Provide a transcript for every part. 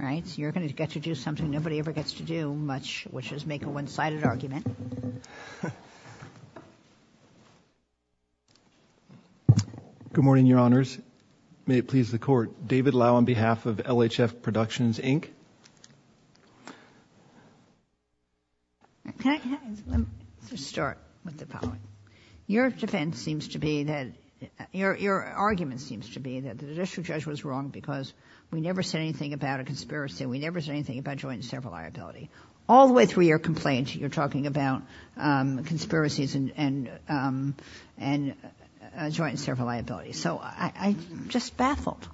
All right, so you're going to get to do something nobody ever gets to do much, which is make a one-sided argument. Good morning, Your Honors. May it please the Court. David Lau on behalf of LHF Productions Inc. Okay, let's start with the following. Your defense seems to be that, your argument seems to be that the Judicial Judge was wrong because we never said anything about a conspiracy. We never said anything about joint and several liability. All the way through your complaint, you're talking about conspiracies and joint and several liability. So I'm just baffled.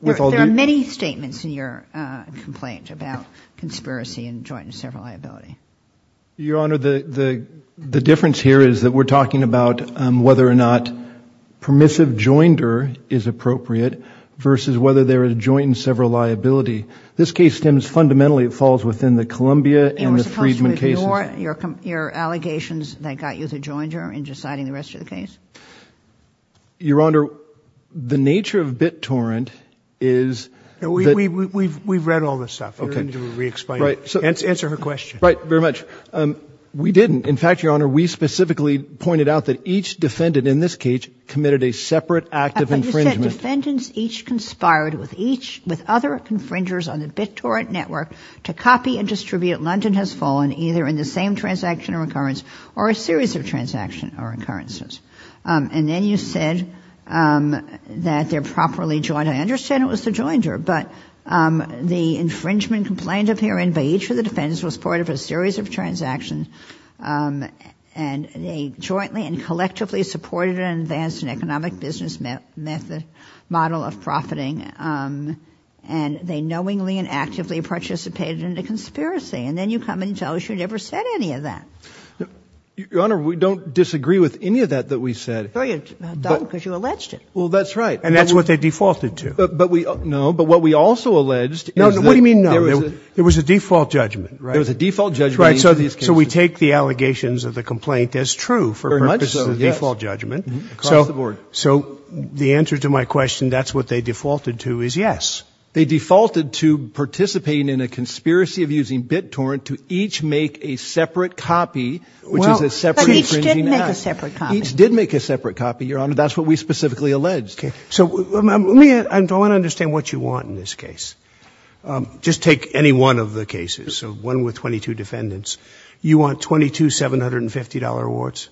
There are many statements in your complaint about conspiracy and joint and several liability. Your Honor, the difference here is that we're talking about whether or not permissive joinder is appropriate versus whether there is joint and several liability. This case stems fundamentally, it falls within the Columbia and the Freedman cases. And we're supposed to ignore your allegations that got you to join her in deciding the rest of the case? Your Honor, the nature of BitTorrent is... We've read all this stuff. You're going to have to re-explain it. Answer her question. Right, very much. We didn't. In fact, Your Honor, we specifically pointed out that each defendant in this case committed a separate act of infringement. You said defendants each conspired with other infringers on the BitTorrent network to copy and distribute London Has Fallen, either in the same transaction or recurrence or a series of transaction or occurrences. And then you said that they're properly joined. I understand it was the joinder, but the infringement complaint appearing by each of the defendants was part of a series of transactions. And they jointly and collectively supported an advanced and economic business method, model of profiting. And they knowingly and actively participated in the conspiracy. And then you come and tell us you never said any of that. Your Honor, we don't disagree with any of that that we said. Oh, you don't, because you alleged it. Well, that's right. And that's what they defaulted to. But we, no, but what we also alleged is that... No, what do you mean no? There was a default judgment. There was a default judgment. Right, so we take the allegations of the complaint as true for purposes of default judgment. Across the board. So the answer to my question, that's what they defaulted to, is yes. They defaulted to participating in a conspiracy of using BitTorrent to each make a separate copy, which is a separate infringing act. But each didn't make a separate copy. Each did make a separate copy, Your Honor. That's what we specifically alleged. Okay. So let me, I want to understand what you want in this case. Just take any one of the cases, so one with 22 defendants. You want 22 $750 awards?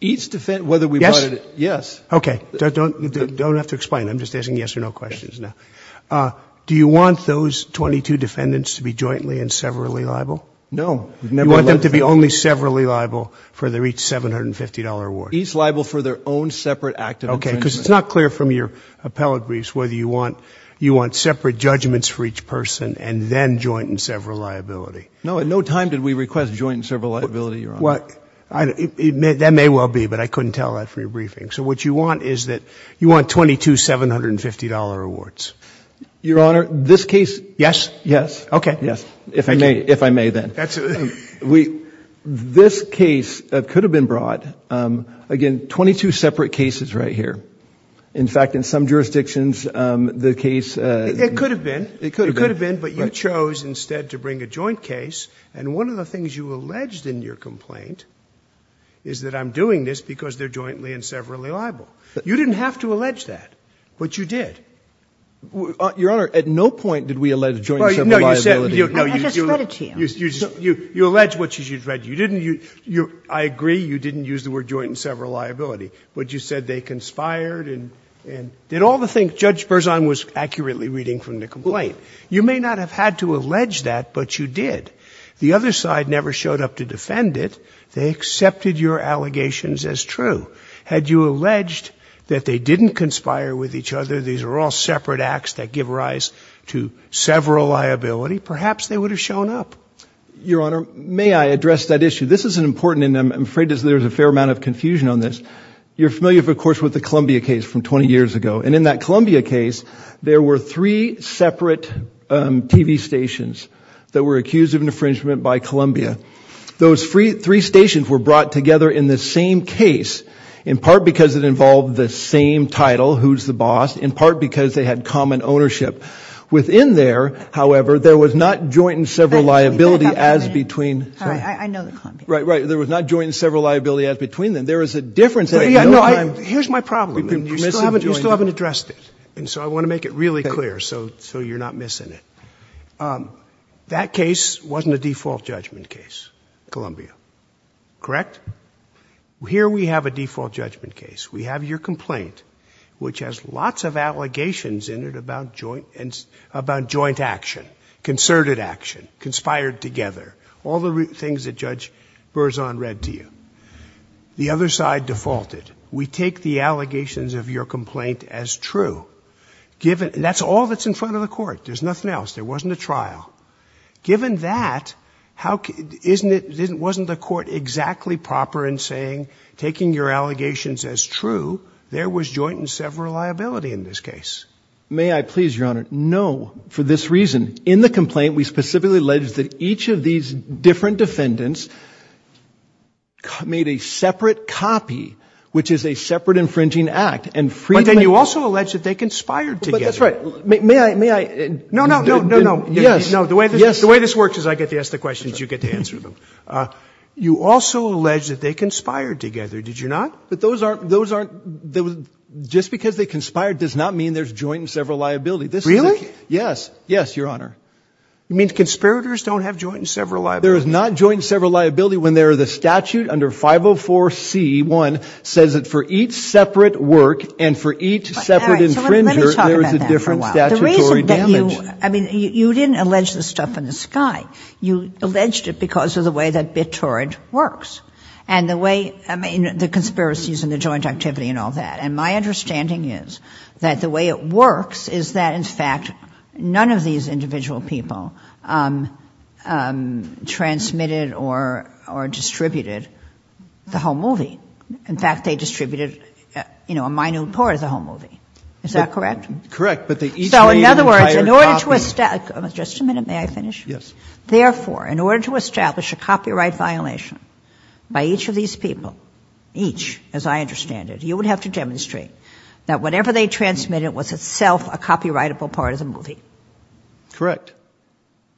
Each defendant, whether we wanted... Yes? Yes. Okay. Don't have to explain. I'm just asking yes or no questions now. Do you want those 22 defendants to be jointly and severally liable? No. You want them to be only severally liable for their each $750 award? Each liable for their own separate act of infringement. Okay, because it's not clear from your appellate briefs whether you want separate judgments for each person and then joint and several liability. No, at no time did we request joint and several liability, Your Honor. That may well be, but I couldn't tell that from your briefing. So what you want is that you want 22 $750 awards. Your Honor, this case... Yes? Yes. Okay. Yes, if I may then. Absolutely. This case could have been brought, again, 22 separate cases right here. In fact, in some jurisdictions, the case... It could have been. It could have been. It could have been, but you chose instead to bring a joint case, and one of the things you alleged in your complaint is that I'm doing this because they're jointly and severally liable. You didn't have to allege that, but you did. Your Honor, at no point did we allege joint and several liability. No, you said... I just read it to you. You allege what you read. You didn't. I agree you didn't use the word joint and several liability, but you said they conspired and did all the things. That's what Judge Berzon was accurately reading from the complaint. You may not have had to allege that, but you did. The other side never showed up to defend it. They accepted your allegations as true. Had you alleged that they didn't conspire with each other, these are all separate acts that give rise to several liability, perhaps they would have shown up. Your Honor, may I address that issue? This is important, and I'm afraid there's a fair amount of confusion on this. You're familiar, of course, with the Columbia case from 20 years ago, and in that Columbia case, there were three separate TV stations that were accused of an infringement by Columbia. Those three stations were brought together in the same case, in part because it involved the same title, who's the boss, in part because they had common ownership. Within there, however, there was not joint and several liability as between... I know the Columbia case. Right, right. There was not joint and several liability as between them. There is a difference between them. Here's my problem, and you still haven't addressed it, and so I want to make it really clear so you're not missing it. That case wasn't a default judgment case, Columbia. Correct? Here we have a default judgment case. We have your complaint, which has lots of allegations in it about joint action, concerted action, conspired together, all the things that Judge We take the allegations of your complaint as true. That's all that's in front of the court. There's nothing else. There wasn't a trial. Given that, wasn't the court exactly proper in saying, taking your allegations as true, there was joint and several liability in this case? May I please, Your Honor, no, for this reason. In the complaint, we specifically allege that each of these different defendants made a separate copy, which is a separate infringing act. But then you also allege that they conspired together. That's right. May I... No, no, no, no, no. Yes. The way this works is I get to ask the questions, you get to answer them. You also allege that they conspired together, did you not? But those aren't, just because they conspired does not mean there's joint and several liability. Really? Yes. Yes, Your Honor. It means conspirators don't have joint and several liability. There is not joint and several liability when there is a statute under 504C1 says that for each separate work and for each separate infringer there is a different statutory All right, so let me talk about that for a while. The reason that you, I mean, you didn't allege this stuff in the sky. You alleged it because of the way that BitTorrent works and the way, I mean, the conspiracies and the joint activity and all that. And my understanding is that the way it works is that, in fact, none of these individual people transmitted or distributed the whole movie. In fact, they distributed, you know, a minute part of the whole movie. Is that correct? Correct, but they each made an entire copy... So, in other words, in order to establish, just a minute, may I finish? Yes. Therefore, in order to establish a copyright violation by each of these people, each, as I understand it, you would have to demonstrate that whatever they transmitted was itself a copyrightable part of the movie. Correct.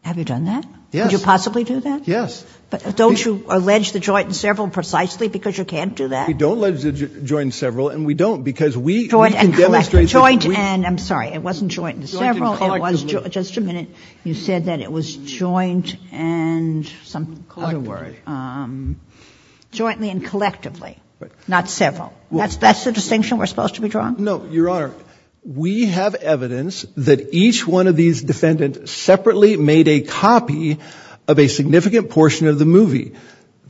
Have you done that? Yes. Could you possibly do that? Yes. But don't you allege the joint and several precisely because you can't do that? We don't allege the joint and several and we don't because we can demonstrate... Joint and collectively. Joint and, I'm sorry, it wasn't joint and several. Joint and collectively. It was, just a minute, you said that it was joint and some other word. Collectively. Jointly and collectively, not several. That's the distinction we're supposed to be drawing? No, Your Honor. We have evidence that each one of these defendants separately made a copy of a significant portion of the movie.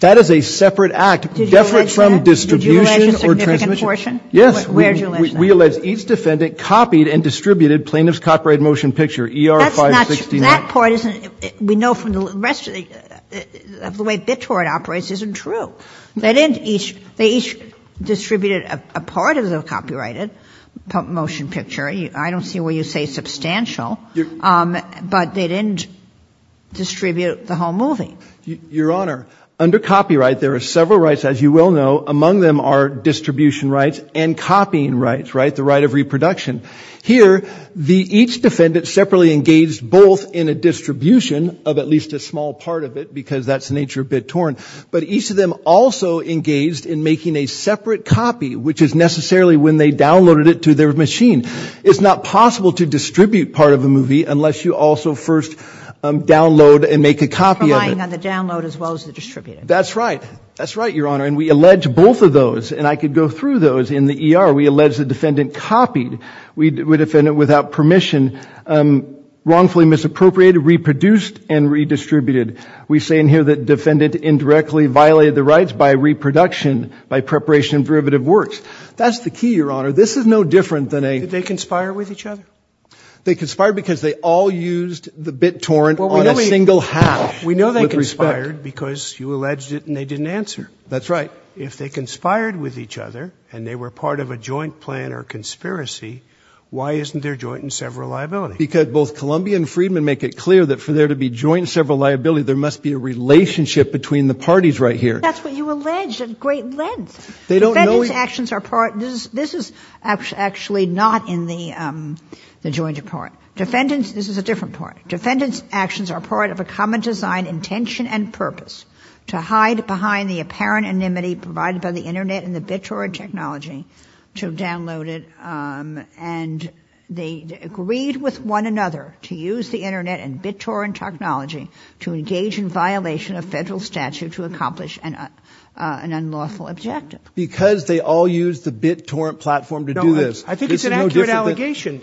That is a separate act. Did you allege that? Different from distribution or transmission. Did you allege a significant portion? Yes. Where did you allege that? We allege each defendant copied and distributed Plaintiff's Copyright Motion Picture, ER 569. That part isn't, we know from the rest of the way BitTorrent operates, isn't true. They didn't each, they each distributed a part of the copyrighted motion picture. I don't see where you say substantial. But they didn't distribute the whole movie. Your Honor, under copyright, there are several rights, as you well know. Among them are distribution rights and copying rights, right, the right of reproduction. Here, each defendant separately engaged both in a distribution of at least a small part of it, because that's the nature of BitTorrent. But each of them also engaged in making a separate copy, which is necessarily when they downloaded it to their machine. It's not possible to distribute part of a movie unless you also first download and make a copy of it. Relying on the download as well as the distributing. That's right. That's right, Your Honor. And we allege both of those. And I could go through those in the ER. We allege the defendant copied, the defendant without permission wrongfully misappropriated, reproduced, and redistributed. We say in here that defendant indirectly violated the rights by reproduction, by preparation of derivative works. That's the key, Your Honor. This is no different than a – Did they conspire with each other? They conspired because they all used the BitTorrent on a single hack. We know they conspired because you alleged it and they didn't answer. That's right. But if they conspired with each other and they were part of a joint plan or conspiracy, why isn't there joint and several liability? Because both Columbia and Friedman make it clear that for there to be joint and several liability, there must be a relationship between the parties right here. That's what you alleged at great length. They don't know we – Defendant's actions are part – this is actually not in the joint report. Defendant's – this is a different report. Defendant's actions are part of a common design, intention, and purpose to hide behind the apparent anonymity provided by the internet and the BitTorrent technology to download it. And they agreed with one another to use the internet and BitTorrent technology to engage in violation of federal statute to accomplish an unlawful objective. Because they all used the BitTorrent platform to do this. No, I think it's an accurate allegation.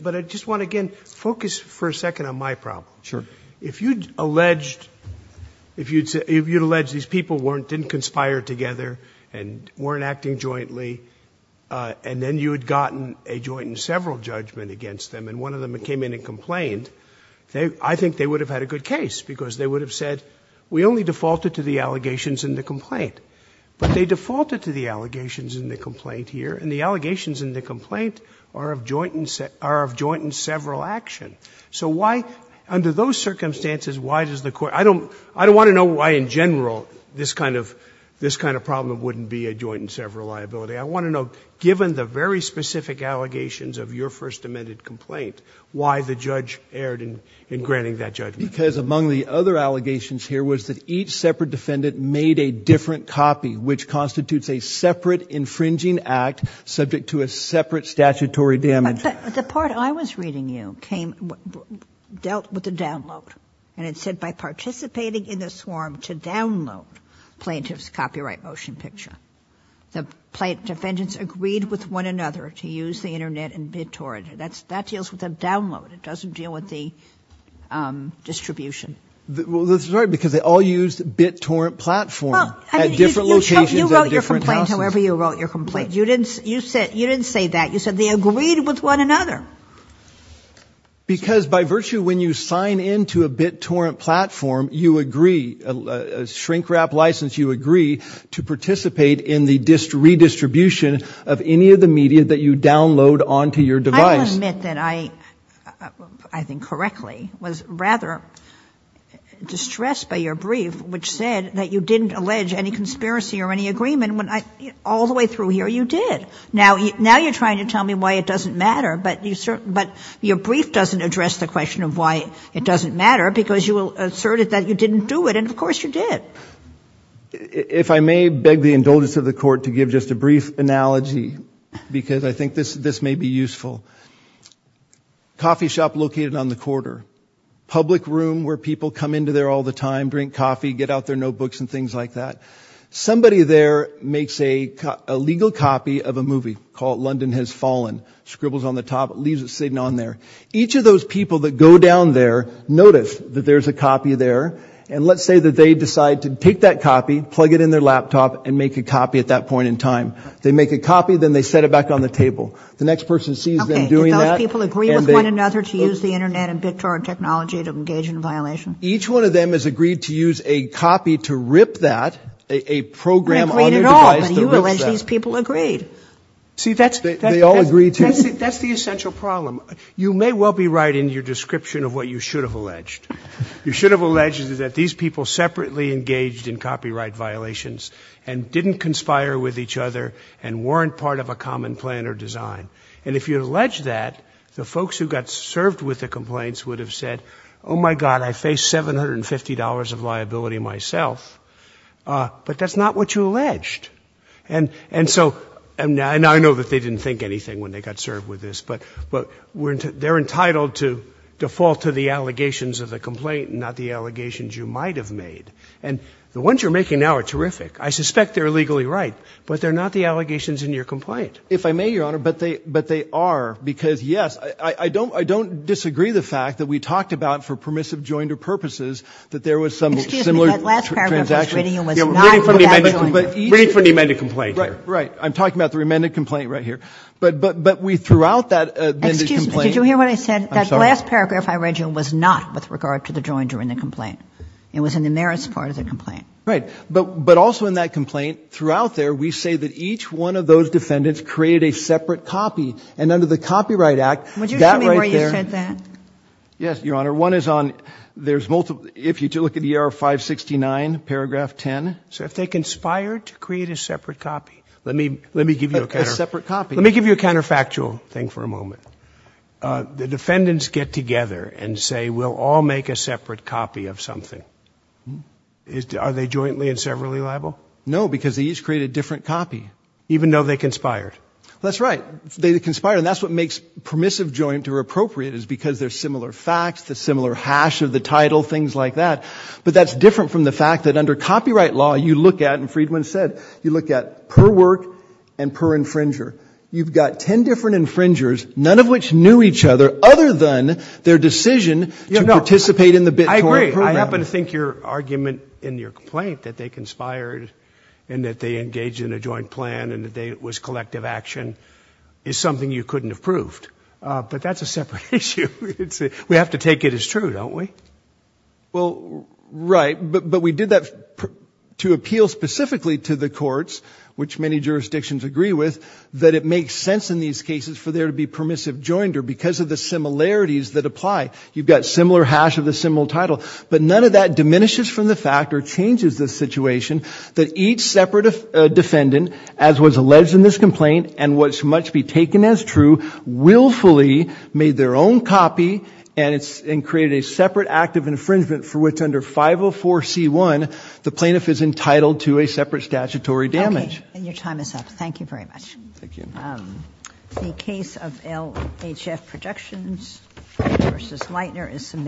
But I just want to, again, focus for a second on my problem. Sure. If you'd alleged – if you'd alleged these people weren't – didn't conspire together and weren't acting jointly, and then you had gotten a joint and several judgment against them, and one of them came in and complained, I think they would have had a good case, because they would have said we only defaulted to the allegations in the complaint. But they defaulted to the allegations in the complaint here, and the allegations in the complaint are of joint and several action. So why – under those circumstances, why does the court – I don't – I don't want to know why in general this kind of – this kind of problem wouldn't be a joint and several liability. I want to know, given the very specific allegations of your first amended complaint, why the judge erred in granting that judgment. Because among the other allegations here was that each separate defendant made a different copy, which constitutes a separate infringing act subject to a separate statutory judgment. But the part I was reading you came – dealt with the download. And it said by participating in the swarm to download plaintiff's copyright motion picture, the defendants agreed with one another to use the Internet and BitTorrent. That's – that deals with the download. It doesn't deal with the distribution. Well, that's right, because they all used BitTorrent platform at different locations and different houses. You wrote your complaint, however you wrote your complaint. You didn't – you said – you didn't say that. You said they agreed with one another. Because by virtue, when you sign into a BitTorrent platform, you agree – a shrink-wrap license, you agree to participate in the redistribution of any of the media that you download onto your device. I will admit that I – I think correctly was rather distressed by your brief, which said that you didn't allege any conspiracy or any agreement. When I – all the way through here, you did. Now – now you're trying to tell me why it doesn't matter, but you – but your brief doesn't address the question of why it doesn't matter, because you asserted that you didn't do it, and of course you did. If I may beg the indulgence of the Court to give just a brief analogy, because I think this – this may be useful. Coffee shop located on the corridor. Public room where people come into there all the time, drink coffee, get out their notebooks and things like that. Somebody there makes a – a legal copy of a movie called London Has Fallen. Scribbles on the top, leaves it sitting on there. Each of those people that go down there notice that there's a copy there, and let's say that they decide to take that copy, plug it in their laptop, and make a copy at that point in time. They make a copy, then they set it back on the table. The next person sees them doing that – Okay. Do those people agree with one another to use the Internet and BitTorrent technology to engage in a violation? Each one of them has agreed to use a copy to rip that, a program on their device that rips that. They agreed at all, but you allege these people agreed. See, that's – They all agreed to? That's the – that's the essential problem. You may well be right in your description of what you should have alleged. You should have alleged that these people separately engaged in copyright violations and didn't conspire with each other and weren't part of a common plan or design. And if you had alleged that, the folks who got served with the complaints would have said, oh, my God, I face $750 of liability myself. But that's not what you alleged. And so – and I know that they didn't think anything when they got served with this, but we're – they're entitled to default to the allegations of the complaint and not the allegations you might have made. And the ones you're making now are terrific. I suspect they're legally right, but they're not the allegations in your complaint. If I may, Your Honor, but they – but they are because, yes, I don't – I don't disagree the fact that we talked about, for permissive joinder purposes, that there was some similar transaction. Excuse me. That last paragraph I was reading was not for that joinder. Reading from the amended complaint. Right. Right. I'm talking about the amended complaint right here. But we, throughout that amended complaint – Excuse me. Did you hear what I said? I'm sorry. That last paragraph I read you was not with regard to the joinder in the complaint. It was in the merits part of the complaint. Right. created a separate copy. And under the Copyright Act, that right there – Would you show me where you said that? Yes, Your Honor. One is on – there's multiple – if you look at the error 569, paragraph 10. So if they conspired to create a separate copy. Let me – let me give you a – A separate copy. Let me give you a counterfactual thing for a moment. The defendants get together and say, we'll all make a separate copy of something. Are they jointly and severally liable? No, because they each create a different copy, even though they conspired. That's right. They conspire, and that's what makes permissive joint or appropriate, is because they're similar facts, the similar hash of the title, things like that. But that's different from the fact that under copyright law, you look at, and Friedman said, you look at per work and per infringer. You've got ten different infringers, none of which knew each other, other than their decision to participate in the bit. I agree. I happen to think your argument in your complaint that they conspired and that they engaged in a joint plan and that it was collective action is something you couldn't have proved. But that's a separate issue. We have to take it as true, don't we? Well, right. But we did that to appeal specifically to the courts, which many jurisdictions agree with, that it makes sense in these cases for there to be permissive jointer because of the similarities that apply. You've got similar hash of a similar title, but none of that diminishes from the fact or changes the situation that each separate defendant, as was alleged in this complaint, and what must be taken as true, willfully made their own copy and created a separate act of infringement for which under 504c1, the plaintiff is entitled to a separate statutory damage. Okay. And your time is up. Thank you very much. Thank you. The case of LHF Projections v. Lightner is submitted.